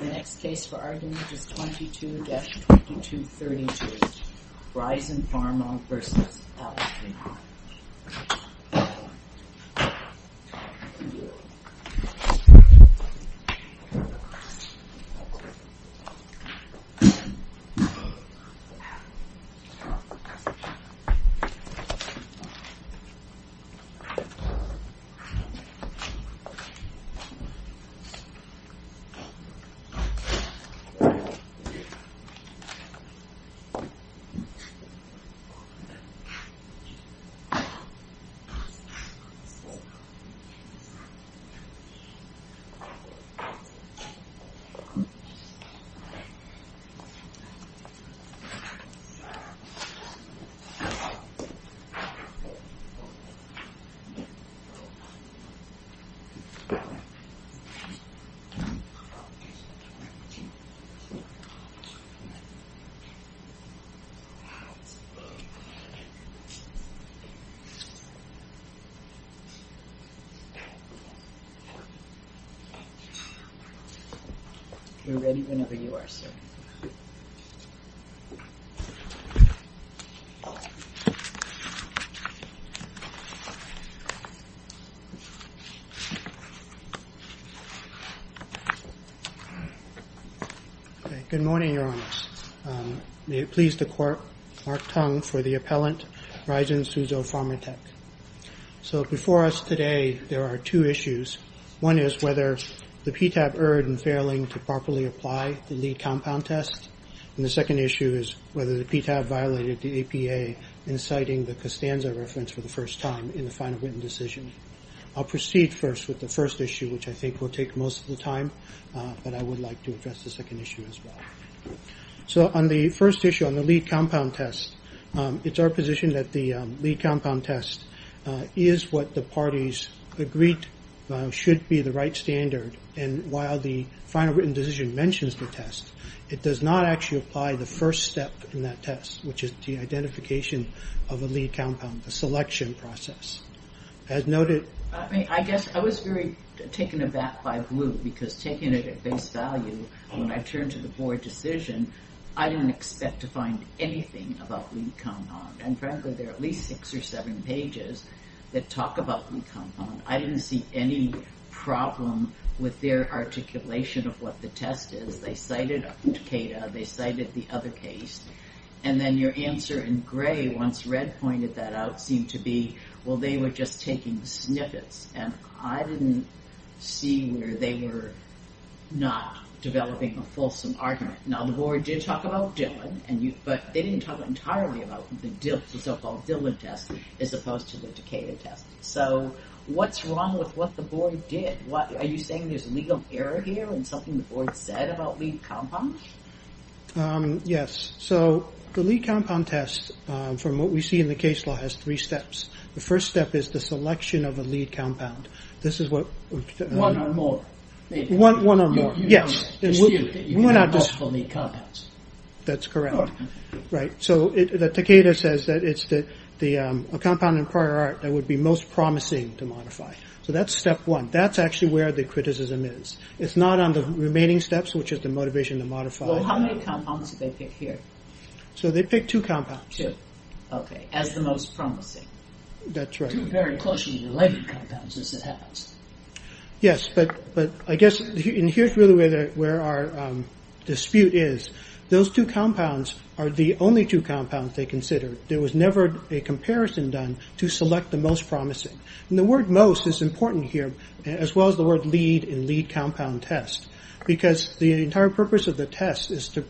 The next case for argument is 22-2232, Risen Pharma v. Alzheon. Risen Pharma v. Alzheon, Inc. We're ready whenever you are, sir. Good morning, Your Honor. May it please the Court, Mark Tong for the appellant, Risen Suzhou Pharma Tech. So before us today, there are two issues. One is whether the PTAB erred in failing to properly apply the lead compound test, and the second issue is whether the PTAB violated the APA in citing the Costanza reference for the first time in the final written decision. I'll proceed first with the first issue, which I think will take most of the time, but I would like to address the second issue as well. So on the first issue, on the lead compound test, it's our position that the lead compound test is what the parties agreed should be the right standard, and while the final written decision mentions the test, it does not actually apply the first step in that test, which is the identification of a lead compound, the selection process. As noted... I mean, I guess I was very taken aback by Blue, because taking it at face value, when I turned to the board decision, I didn't expect to find anything about lead compound, and frankly, there are at least six or seven pages that talk about lead compound. I didn't see any problem with their articulation of what the test is. They cited Takeda. They cited the other case, and then your answer in gray, once Red pointed that out, seemed to be, well, they were just taking snippets, and I didn't see where they were not developing a fulsome argument. Now, the board did talk about Dillon, but they didn't talk entirely about the so-called Dillon test as opposed to the Takeda test. So what's wrong with what the board did? Are you saying there's legal error here in something the board said about lead compound? Yes. So the lead compound test, from what we see in the case law, has three steps. The first step is the selection of a lead compound. This is what... One or more. One or more, yes. We're not just... That's correct. Right. So Takeda says that it's a compound in prior art that would be most promising to modify. So that's step one. That's actually where the criticism is. It's not on the remaining steps, which is the motivation to modify. Well, how many compounds did they pick here? So they picked two compounds. Two. Okay. As the most promising. That's right. Two very closely related compounds, as it happens. Yes, but I guess... And here's really where our dispute is. Those two compounds are the only two compounds they considered. There was never a comparison done to select the most promising. And the word most is important here, as well as the word lead in lead compound test, because the entire purpose of the test is to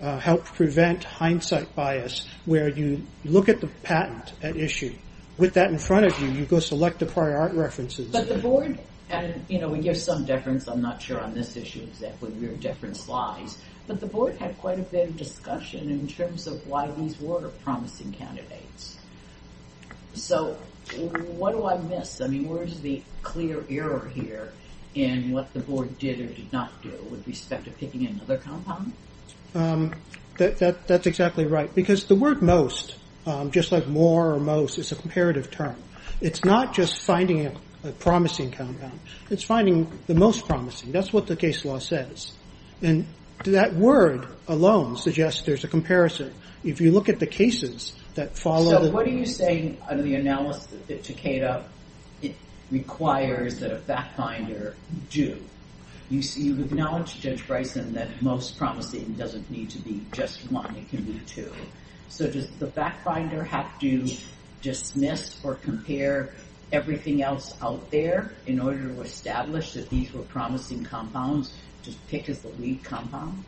help prevent hindsight bias, where you look at the patent at issue. With that in front of you, you go select the prior art references. But the board... And we give some deference. I'm not sure on this issue exactly where deference lies. But the board had quite a bit of discussion in terms of why these were promising candidates. So what do I miss? I mean, where is the clear error here in what the board did or did not do with respect to picking another compound? That's exactly right. Because the word most, just like more or most, is a comparative term. It's not just finding a promising compound. It's finding the most promising. That's what the case law says. And that word alone suggests there's a comparison. If you look at the cases that follow... So what are you saying under the analysis that Takeda requires that a fact finder do? You've acknowledged, Judge Bryson, that most promising doesn't need to be just one. It can be two. So does the fact finder have to dismiss or compare everything else out there in order to establish that these were promising compounds to pick as the lead compound?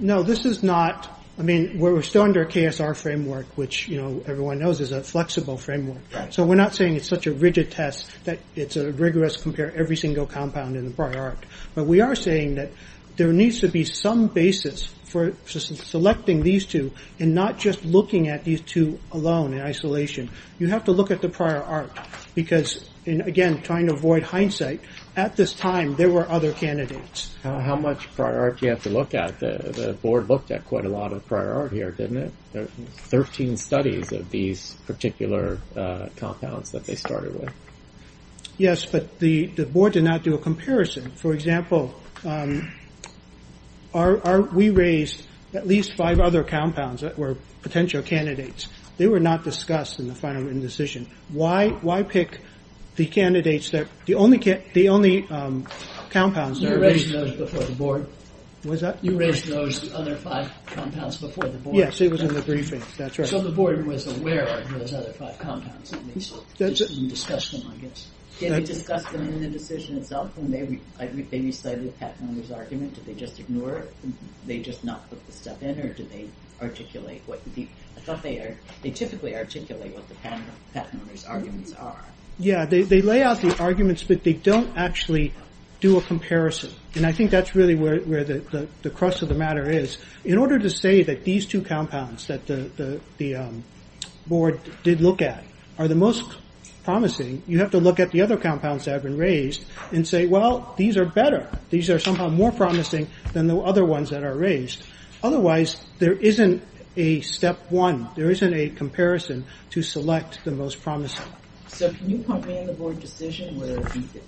No, this is not. I mean, we're still under a KSR framework, which everyone knows is a flexible framework. So we're not saying it's such a rigid test that it's a rigorous compare every single compound in the prior arc. But we are saying that there needs to be some basis for selecting these two and not just looking at these two alone in isolation. You have to look at the prior arc because, again, trying to avoid hindsight, at this time there were other candidates. How much prior arc do you have to look at? The board looked at quite a lot of prior arc here, didn't it? There were 13 studies of these particular compounds that they started with. Yes, but the board did not do a comparison. For example, we raised at least five other compounds that were potential candidates. They were not discussed in the final decision. Why pick the candidates that the only compounds that were raised before the board? You raised those other five compounds before the board? Yes, it was in the briefing. So the board was aware of those other five compounds, at least, and discussed them, I guess. Did they discuss them in the decision itself? Did they recite the patent owner's argument? Did they just ignore it? Did they just not put the stuff in? I thought they typically articulate what the patent owner's arguments are. Yes, they lay out the arguments, but they don't actually do a comparison. I think that's really where the crux of the matter is. In order to say that these two compounds that the board did look at are the most promising, you have to look at the other compounds that have been raised and say, well, these are better. These are somehow more promising than the other ones that are raised. Otherwise, there isn't a step one. There isn't a comparison to select the most promising. So can you point me in the board decision where,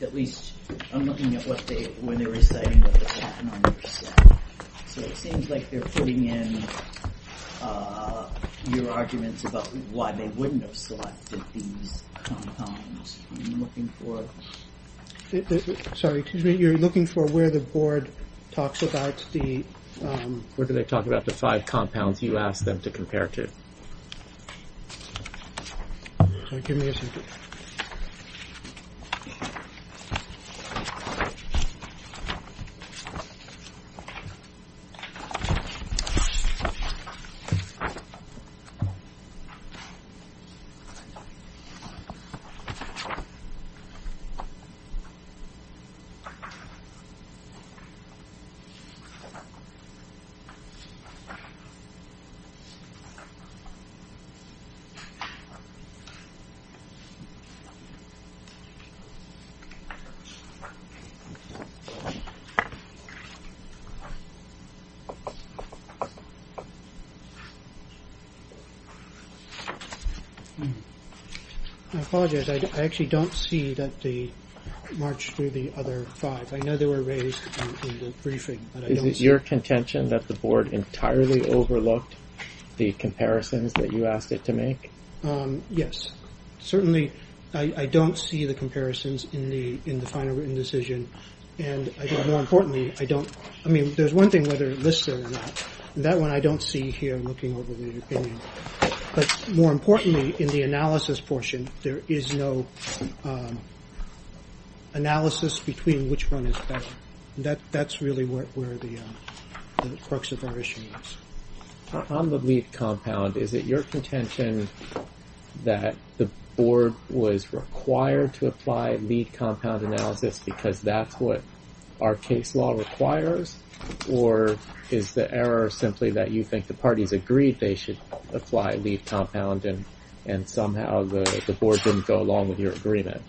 at least, I'm looking at where they're reciting what the patent owner said. So it seems like they're putting in your arguments about why they wouldn't have selected these compounds. Are you looking for it? What did they talk about the five compounds you asked them to compare to? Give me a second. I apologize. I actually don't see that they marched through the other five. I know they were raised in the briefing, but I don't see them. Is your contention that the board entirely overlooked the comparisons that you asked it to make? Yes. Certainly, I don't see the comparisons in the final written decision. And more importantly, I don't. I mean, there's one thing whether it lists it or not. That one I don't see here, looking over the opinion. But more importantly, in the analysis portion, there is no analysis between which one is better. That's really where the crux of our issue is. On the lead compound, is it your contention that the board was required to apply lead compound analysis because that's what our case law requires? Or is the error simply that you think the parties agreed they should apply lead compound and somehow the board didn't go along with your agreement?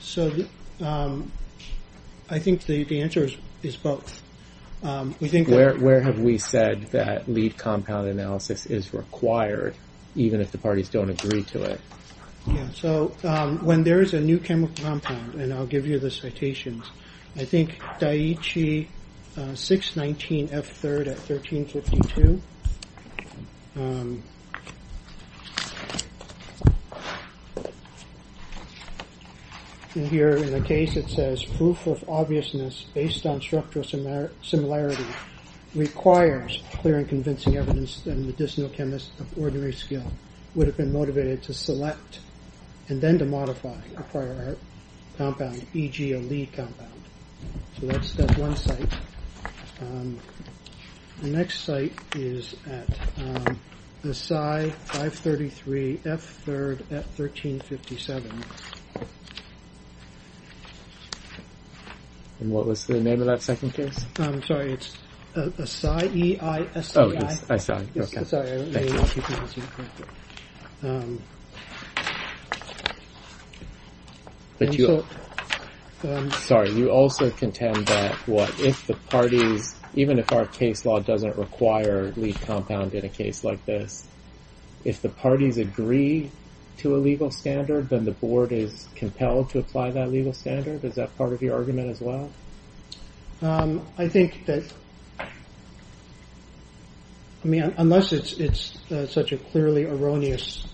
So I think the answer is both. Where have we said that lead compound analysis is required, even if the parties don't agree to it? So when there is a new chemical compound, and I'll give you the citations, I think Daiichi 619F3 at 1352. Here in the case it says, Proof of obviousness based on structural similarity requires clear and convincing evidence that a medicinal chemist of ordinary skill would have been motivated to select and then to modify a prior compound, e.g. a lead compound. So that's one site. The next site is at Asai 533F3 at 1357. And what was the name of that second case? Sorry, it's Asai, E-I-S-A-I. Sorry, you also contend that if the parties, even if our case law doesn't require lead compound in a case like this, if the parties agree to a legal standard, then the board is compelled to apply that legal standard? Is that part of your argument as well? I think that, I mean, unless it's such a clearly erroneous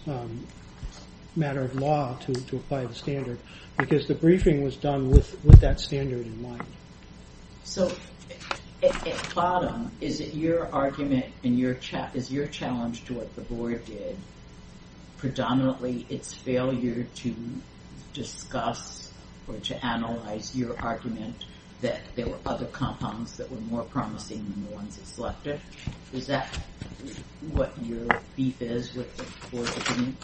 matter of law to apply the standard, because the briefing was done with that standard in mind. So at bottom, is it your argument and is your challenge to what the board did predominantly its failure to discuss or to analyze your argument that there were other compounds that were more promising than the ones it selected? Is that what your beef is with the board's opinion?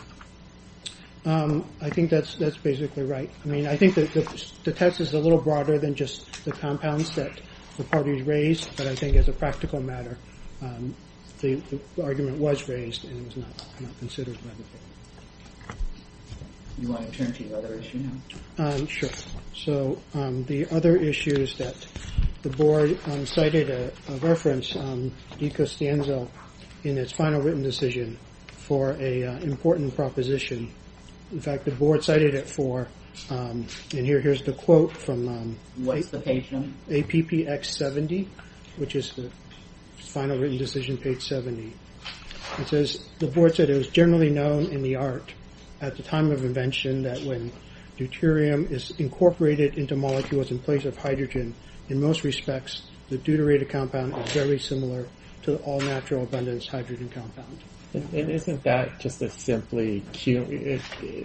I think that's basically right. I mean, I think the test is a little broader than just the compounds that the parties raised, but I think as a practical matter, the argument was raised and it was not considered. Do you want to turn to the other issue now? Sure. So the other issue is that the board cited a reference, DiCostanzo, in its final written decision for an important proposition. In fact, the board cited it for, and here's the quote from... What's the patient? APPX70, which is the final written decision page 70. It says, the board said it was generally known in the art at the time of invention that when deuterium is incorporated into molecules in place of hydrogen, in most respects, the deuterated compound is very similar to all natural abundance hydrogen compound. And isn't that just a simply...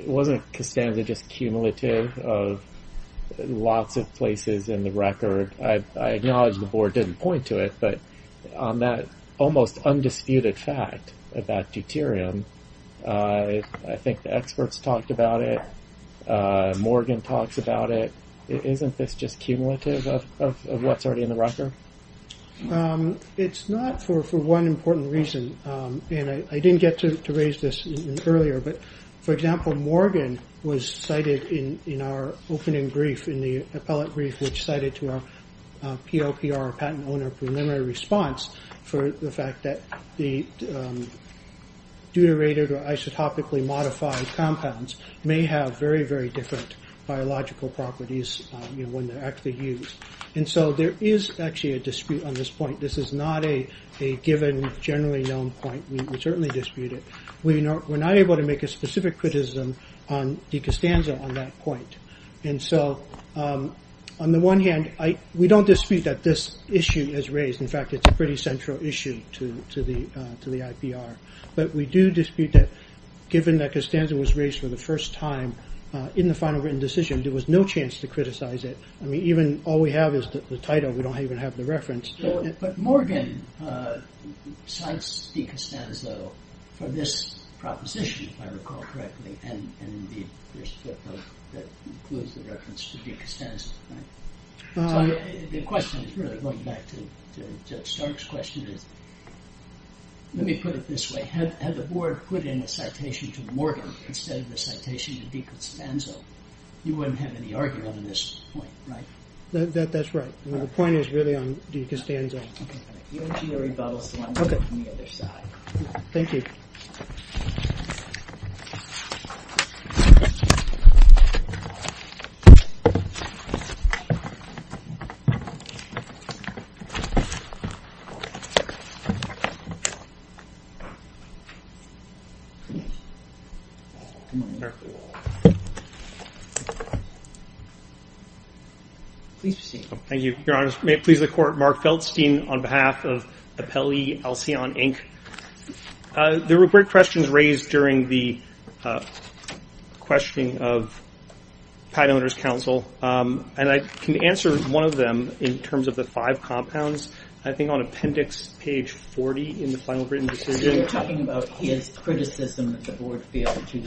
Wasn't Costanza just cumulative of lots of places in the record? I acknowledge the board didn't point to it, but on that almost undisputed fact about deuterium, I think the experts talked about it. Morgan talks about it. Isn't this just cumulative of what's already in the record? It's not for one important reason, and I didn't get to raise this earlier, but, for example, Morgan was cited in our opening brief, in the appellate brief, which cited to our POPR, patent owner preliminary response, for the fact that the deuterated or isotopically modified compounds may have very, very different biological properties when they're actually used. And so there is actually a dispute on this point. This is not a given, generally known point. We certainly dispute it. We're not able to make a specific criticism on de Costanza on that point. And so, on the one hand, we don't dispute that this issue is raised. In fact, it's a pretty central issue to the IPR. But we do dispute that, given that Costanza was raised for the first time in the final written decision, there was no chance to criticize it. I mean, even all we have is the title. We don't even have the reference. But Morgan cites de Costanza for this proposition, if I recall correctly, and the first book that includes the reference to de Costanza, right? So the question is really, going back to Judge Stark's question, is, let me put it this way. Had the board put in a citation to Morgan instead of a citation to de Costanza, you wouldn't have any argument on this point, right? That's right. The point is really on de Costanza. Okay. You want to see the rebuttal slide on the other side. Okay. Thank you. Please proceed. Thank you, Your Honor. May it please the Court, Mark Feldstein on behalf of Appellee Alcion, Inc. There were great questions raised during the questioning of Pat Oner's counsel, and I can answer one of them in terms of the five compounds, I think on appendix page 40 in the final written decision. So you're talking about his criticism that the board failed to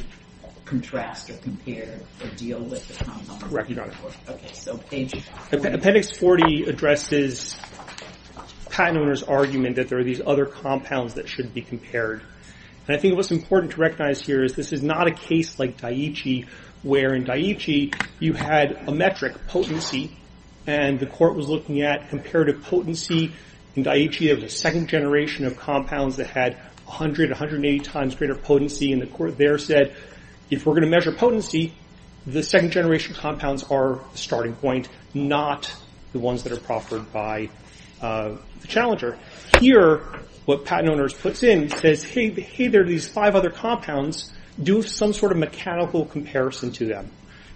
contrast or compare or deal with the compounds? Correct. Okay, so page 40. Appendix 40 addresses Pat Oner's argument that there are these other compounds that should be compared. And I think what's important to recognize here is this is not a case like Daiichi, where in Daiichi you had a metric, potency, and the court was looking at comparative potency. In Daiichi, you have a second generation of compounds that had 100, 180 times greater potency, and the court there said, if we're going to measure potency, the second generation compounds are the starting point, not the ones that are proffered by the challenger. Here, what Pat Oner puts in says, hey, there are these five other compounds. Do some sort of mechanical comparison to them.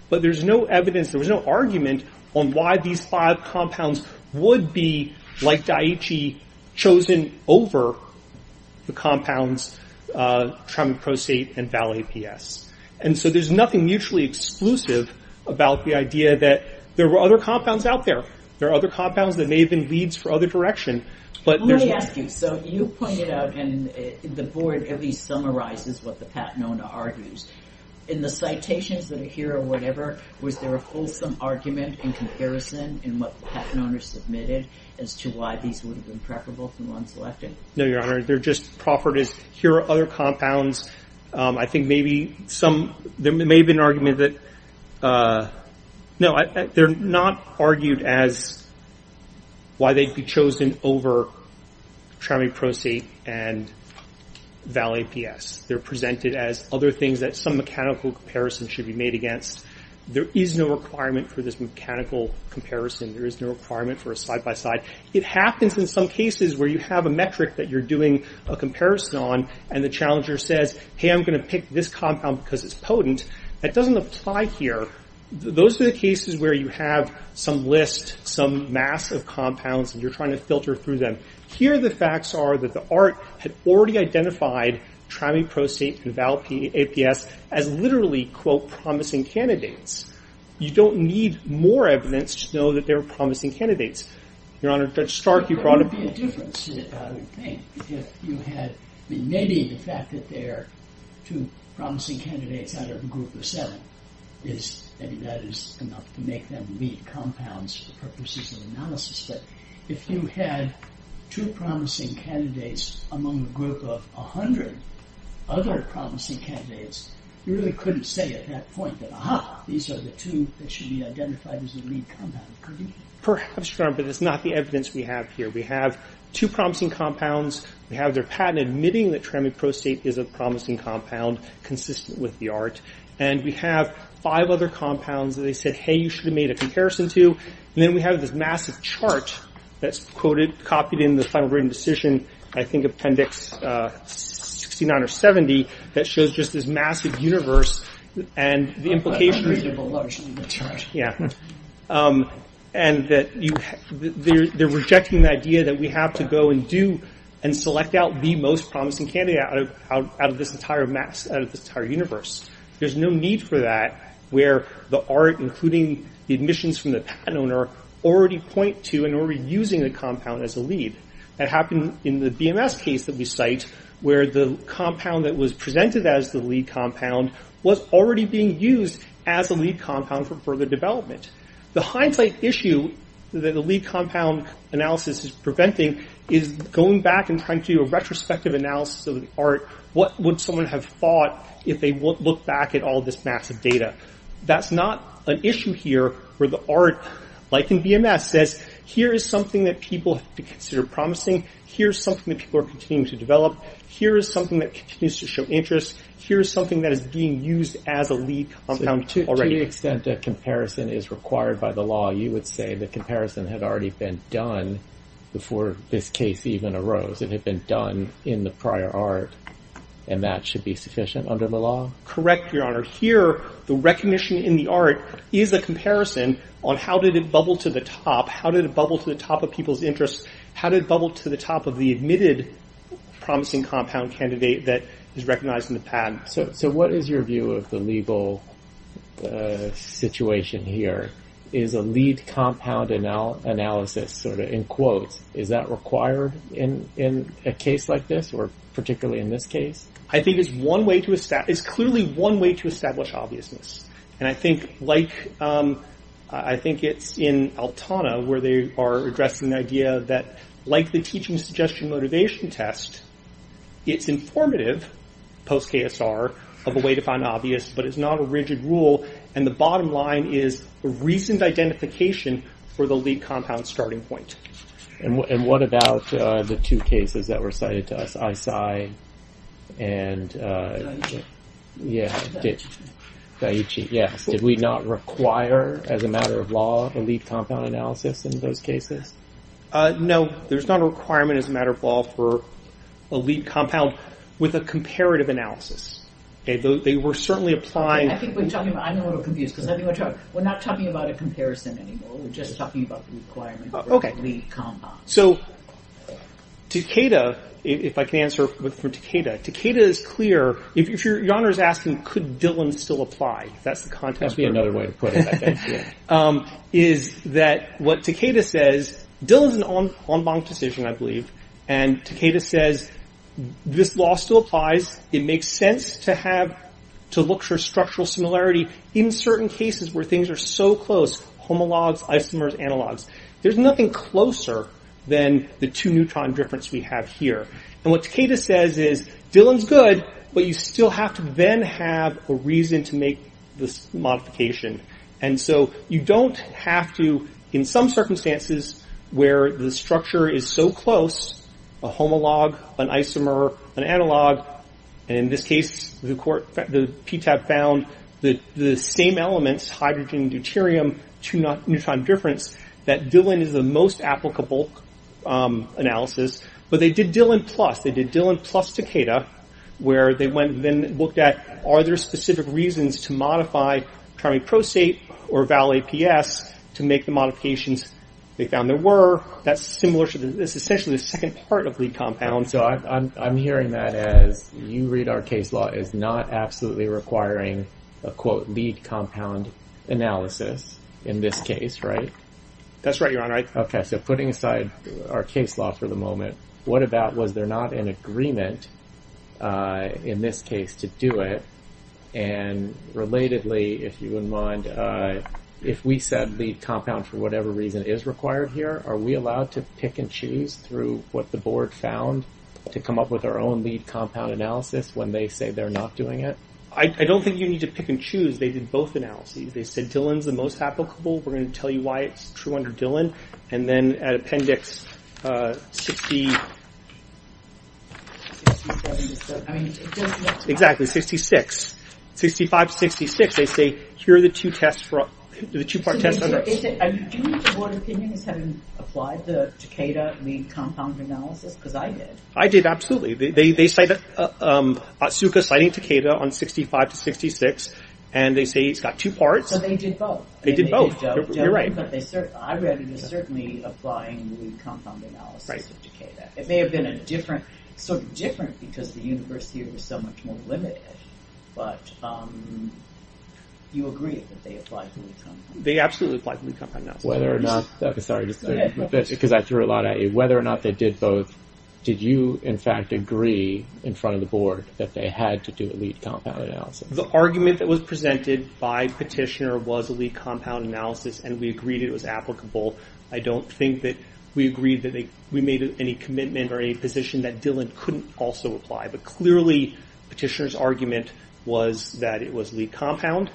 But there's no evidence, there was no argument on why these five compounds would be, like Daiichi, chosen over the compounds trimucrosate and val-APS. And so there's nothing mutually exclusive about the idea that there were other compounds out there. There are other compounds that may have been leads for other direction. Let me ask you. So you pointed out, and the board at least summarizes what the Pat Oner argues. In the citations that are here or whatever, was there a fulsome argument in comparison in what Pat Oner submitted as to why these would have been preferable to the ones selected? No, Your Honor. They're just proffered as here are other compounds. I think maybe some, there may have been an argument that, no, they're not argued as why they'd be chosen over trimucrosate and val-APS. They're presented as other things that some mechanical comparison should be made against. There is no requirement for this mechanical comparison. There is no requirement for a side-by-side. It happens in some cases where you have a metric that you're doing a comparison on, and the challenger says, hey, I'm going to pick this compound because it's potent. That doesn't apply here. Those are the cases where you have some list, some mass of compounds, and you're trying to filter through them. Here the facts are that the ART had already identified trimucrosate and val-APS as literally, quote, promising candidates. You don't need more evidence to know that they're promising candidates. Your Honor, Judge Stark, you brought up— There would be a difference, I would think, if you had, I mean, maybe the fact that there are two promising candidates out of a group of seven is, I mean, that is enough to make them lead compounds for purposes of analysis. But if you had two promising candidates among a group of 100 other promising candidates, you really couldn't say at that point that, aha, these are the two that should be identified as the lead compound, could you? Perhaps, Your Honor, but it's not the evidence we have here. We have two promising compounds. We have their patent admitting that trimucrosate is a promising compound consistent with the ART. And we have five other compounds that they said, hey, you should have made a comparison to. And then we have this massive chart that's quoted, copied in the final written decision, I think, Appendix 69 or 70, that shows just this massive universe and the implications. And that they're rejecting the idea that we have to go and do and select out the most promising candidate out of this entire universe. There's no need for that where the ART, including the admissions from the patent owner, already point to and are already using the compound as a lead. That happened in the BMS case that we cite, where the compound that was presented as the lead compound was already being used as a lead compound for further development. The hindsight issue that the lead compound analysis is preventing is going back and trying to do a retrospective analysis of the ART. What would someone have thought if they looked back at all this massive data? That's not an issue here where the ART, like in BMS, says here is something that people consider promising. Here's something that people are continuing to develop. Here is something that continues to show interest. Here is something that is being used as a lead compound already. To the extent that comparison is required by the law, you would say the comparison had already been done before this case even arose. It had been done in the prior ART and that should be sufficient under the law. Correct, Your Honor. Here, the recognition in the ART is a comparison on how did it bubble to the top? How did it bubble to the top of people's interest? How did it bubble to the top of the admitted promising compound candidate that is recognized in the patent? So what is your view of the legal situation here? Is a lead compound analysis, sort of in quotes, is that required in a case like this or particularly in this case? I think it's clearly one way to establish obviousness. I think it's in Altona where they are addressing the idea that like the teaching suggestion motivation test, it's informative post-KSR of a way to find obvious, but it's not a rigid rule. The bottom line is reasoned identification for the lead compound starting point. And what about the two cases that were cited to us, Aisai and Daichi? Did we not require as a matter of law a lead compound analysis in those cases? No, there's not a requirement as a matter of law for a lead compound with a comparative analysis. They were certainly applying... I'm a little confused because we're not talking about a comparison anymore. We're just talking about the requirement for a lead compound. So Takeda, if I can answer for Takeda. Takeda is clear. If Your Honor is asking could Dillon still apply, if that's the context. That would be another way to put it, I think. Is that what Takeda says, Dillon's an en banc decision, I believe. And Takeda says this law still applies. It makes sense to have, to look for structural similarity in certain cases where things are so close. Homologs, isomers, analogs. There's nothing closer than the two neutron difference we have here. And what Takeda says is Dillon's good, but you still have to then have a reason to make this modification. And so you don't have to, in some circumstances where the structure is so close, a homolog, an isomer, an analog. And in this case, the PTAB found the same elements, hydrogen, deuterium, two neutron difference, that Dillon is the most applicable analysis. But they did Dillon plus. They did Dillon plus Takeda, where they then looked at are there specific reasons to modify trimeprosate or val-APS to make the modifications they found there were. That's similar to this. It's essentially the second part of lead compound. So I'm hearing that as you read our case law as not absolutely requiring a, quote, lead compound analysis in this case, right? That's right, Your Honor. Okay. So putting aside our case law for the moment, what about was there not an agreement in this case to do it? And relatedly, if you wouldn't mind, if we said lead compound for whatever reason is required here, are we allowed to pick and choose through what the board found to come up with our own lead compound analysis when they say they're not doing it? I don't think you need to pick and choose. They did both analyses. They said Dillon's the most applicable. We're going to tell you why it's true under Dillon. And then at Appendix 60- I mean, it doesn't- Exactly, 66. 65 to 66, they say, here are the two tests, the two-part tests under- Do you think the board opinion is having applied the Takeda lead compound analysis? Because I did. I did, absolutely. They cite- Otsuka citing Takeda on 65 to 66, and they say it's got two parts. So they did both. They did both. You're right. But I read it as certainly applying the lead compound analysis of Takeda. It may have been a different- sort of different because the universe here was so much more limited. But you agree that they applied the lead compound? They absolutely applied the lead compound analysis. Whether or not- Sorry, just go ahead. Because I threw a lot at you. Whether or not they did both, did you, in fact, agree in front of the board that they had to do a lead compound analysis? The argument that was presented by Petitioner was a lead compound analysis, and we agreed it was applicable. I don't think that we agreed that we made any commitment or any position that Dillon couldn't also apply. But clearly, Petitioner's argument was that it was lead compound.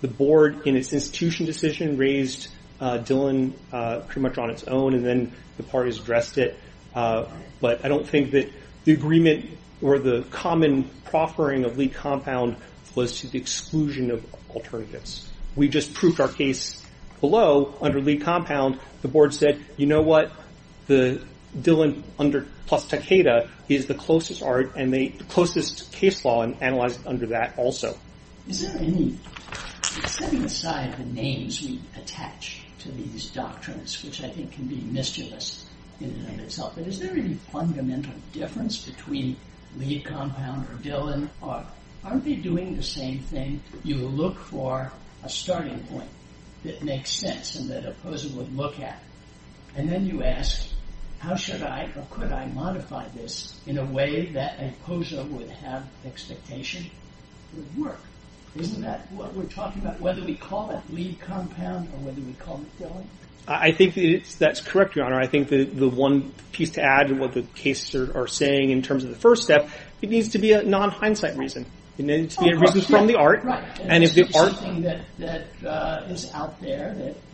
The board, in its institution decision, raised Dillon pretty much on its own, and then the parties addressed it. But I don't think that the agreement or the common proffering of lead compound was to the exclusion of alternatives. We just proved our case below under lead compound. The board said, you know what? The Dillon plus Takeda is the closest case law, and analyzed under that also. Is there any, setting aside the names we attach to these doctrines, which I think can be mischievous in and of itself, but is there any fundamental difference between lead compound or Dillon? Aren't they doing the same thing? You look for a starting point that makes sense and that a poser would look at, and then you ask, how should I or could I modify this in a way that a poser would have expectation would work? Isn't that what we're talking about, whether we call it lead compound or whether we call it Dillon? I think that's correct, Your Honor. I think the one piece to add to what the cases are saying in terms of the first step, it needs to be a non-hindsight reason. It needs to be a reason from the art, and if the art...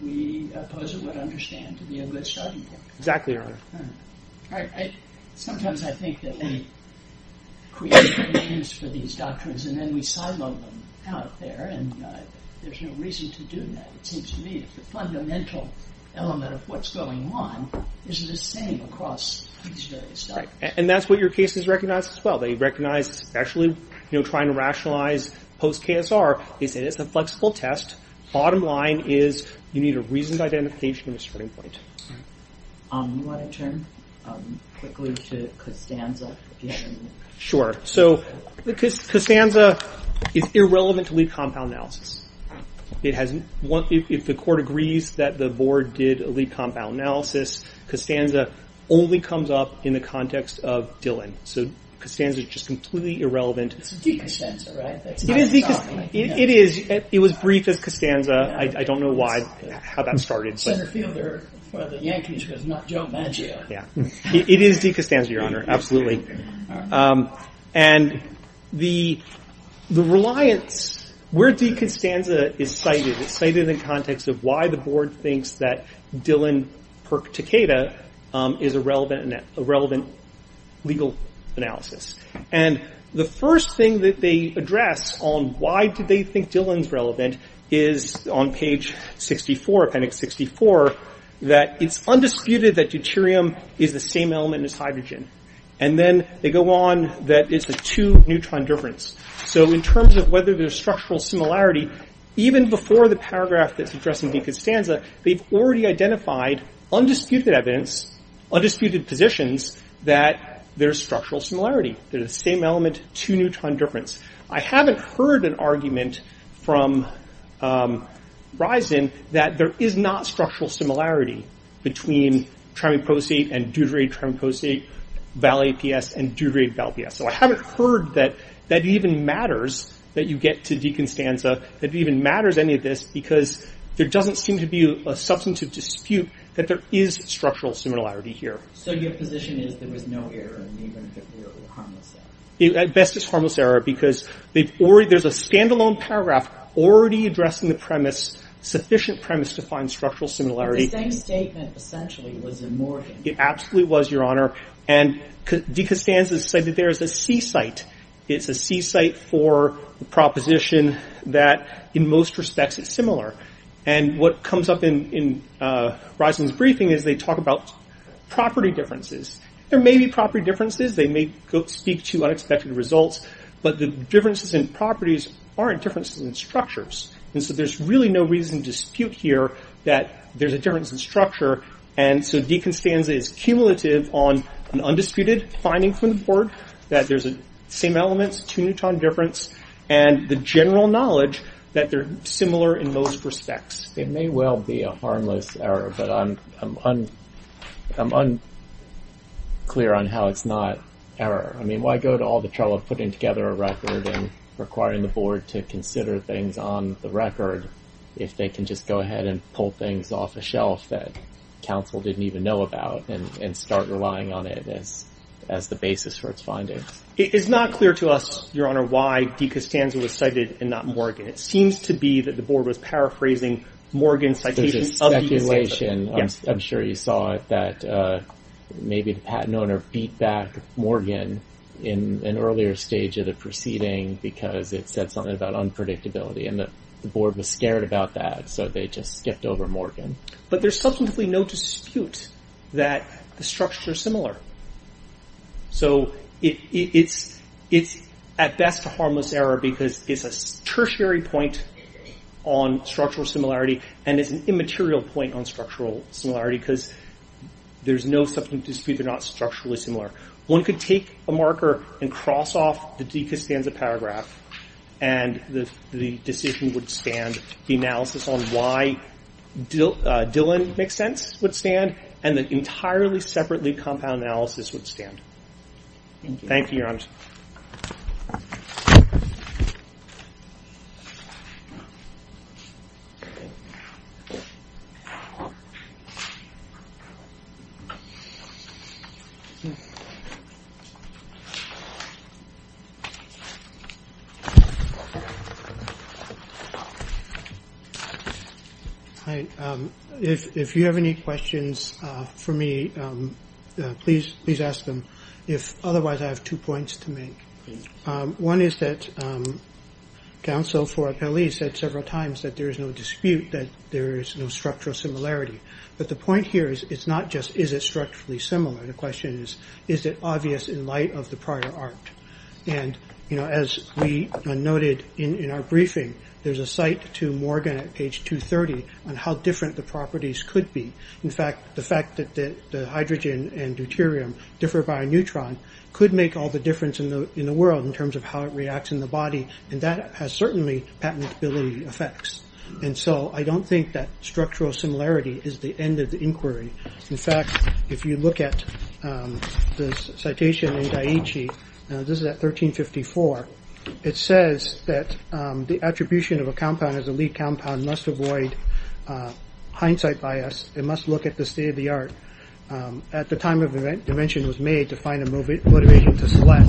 We oppose what we understand to be a good starting point. Exactly, Your Honor. Sometimes I think that we create names for these doctrines, and then we silo them out there, and there's no reason to do that. It seems to me that the fundamental element of what's going on is the same across these various doctrines. And that's what your cases recognize as well. They recognize, especially trying to rationalize post-KSR, it's a flexible test. Bottom line is you need a reasoned identification and a starting point. You want to turn quickly to Costanza? Sure. So Costanza is irrelevant to lead compound analysis. If the court agrees that the board did a lead compound analysis, Costanza only comes up in the context of Dillon. So Costanza is just completely irrelevant. It's a de-Costanza, right? It is de-Costanza. It was brief as Costanza. I don't know how that started. Senator Fielder, one of the Yankees, goes, not Joe Maggio. It is de-Costanza, Your Honor, absolutely. And the reliance, where de-Costanza is cited, it's cited in the context of why the board thinks that Dillon, per Takeda, is a relevant legal analysis. And the first thing that they address on why do they think Dillon's relevant is on page 64, appendix 64, that it's undisputed that deuterium is the same element as hydrogen. And then they go on that it's a two neutron difference. So in terms of whether there's structural similarity, even before the paragraph that's addressing de-Costanza, they've already identified undisputed evidence, undisputed positions, that there's structural similarity. They're the same element, two neutron difference. I haven't heard an argument from Risen that there is not structural similarity between trimeprosate and deuterate trimeprosate, val-APS and deuterate val-PS. So I haven't heard that that even matters, that you get to de-Costanza, that it even matters, any of this, because there doesn't seem to be a substantive dispute that there is structural similarity here. So your position is there was no error, even if it were harmless error? At best, it's harmless error, because there's a standalone paragraph already addressing the premise, sufficient premise to find structural similarity. But the same statement, essentially, was in Morgan. It absolutely was, Your Honor. And de-Costanza said that there is a C-site. It's a C-site for the proposition that, in most respects, it's similar. And what comes up in Risen's briefing is they talk about property differences. There may be property differences. They may speak to unexpected results. But the differences in properties aren't differences in structures. And so there's really no reason to dispute here that there's a difference in structure. And so de-Costanza is cumulative on an undisputed finding from the board that there's the same elements, two-newton difference, and the general knowledge that they're similar in most respects. It may well be a harmless error, but I'm unclear on how it's not error. I mean, why go to all the trouble of putting together a record and requiring the board to consider things on the record if they can just go ahead and pull things off a shelf that counsel didn't even know about and start relying on it as the basis for its findings? It is not clear to us, Your Honor, why de-Costanza was cited and not Morgan. It seems to be that the board was paraphrasing Morgan's citation of de-Costanza. There's a speculation, I'm sure you saw it, that maybe the patent owner beat back Morgan in an earlier stage of the proceeding because it said something about unpredictability. And the board was scared about that, so they just skipped over Morgan. But there's substantively no dispute that the structures are similar. So it's at best a harmless error because it's a tertiary point on structural similarity and it's an immaterial point on structural similarity because there's no substantive dispute they're not structurally similar. One could take a marker and cross off the de-Costanza paragraph and the decision would stand. The analysis on why Dillon makes sense would stand and the entirely separately compound analysis would stand. Thank you, Your Honor. Hi. If you have any questions for me, please ask them. Otherwise, I have two points to make. One is that counsel for Appellee said several times that there is no dispute, that there is no structural similarity. But the point here is it's not just is it structurally similar. The question is, is it obvious in light of the prior art? And as we noted in our briefing, there's a site to Morgan at page 230 on how different the properties could be. In fact, the fact that the hydrogen and deuterium differ by a neutron could make all the difference in the world in terms of how it reacts in the body and that has certainly patentability effects. And so I don't think that structural similarity is the end of the inquiry. In fact, if you look at the citation in Daiichi, this is at 1354, it says that the attribution of a compound as a lead compound must avoid hindsight bias. It must look at the state of the art at the time of invention was made to find a motivation to select.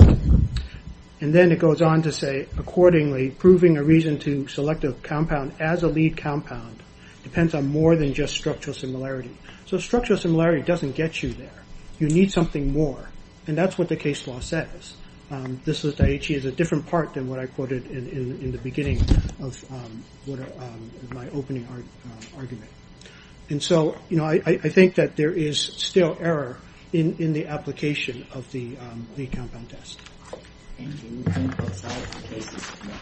And then it goes on to say, accordingly, proving a reason to select a compound as a lead compound depends on more than just structural similarity. So structural similarity doesn't get you there. You need something more. And that's what the case law says. This is Daiichi is a different part than what I quoted in the beginning of my opening argument. And so I think that there is still error in the application of the compound test. Thank you.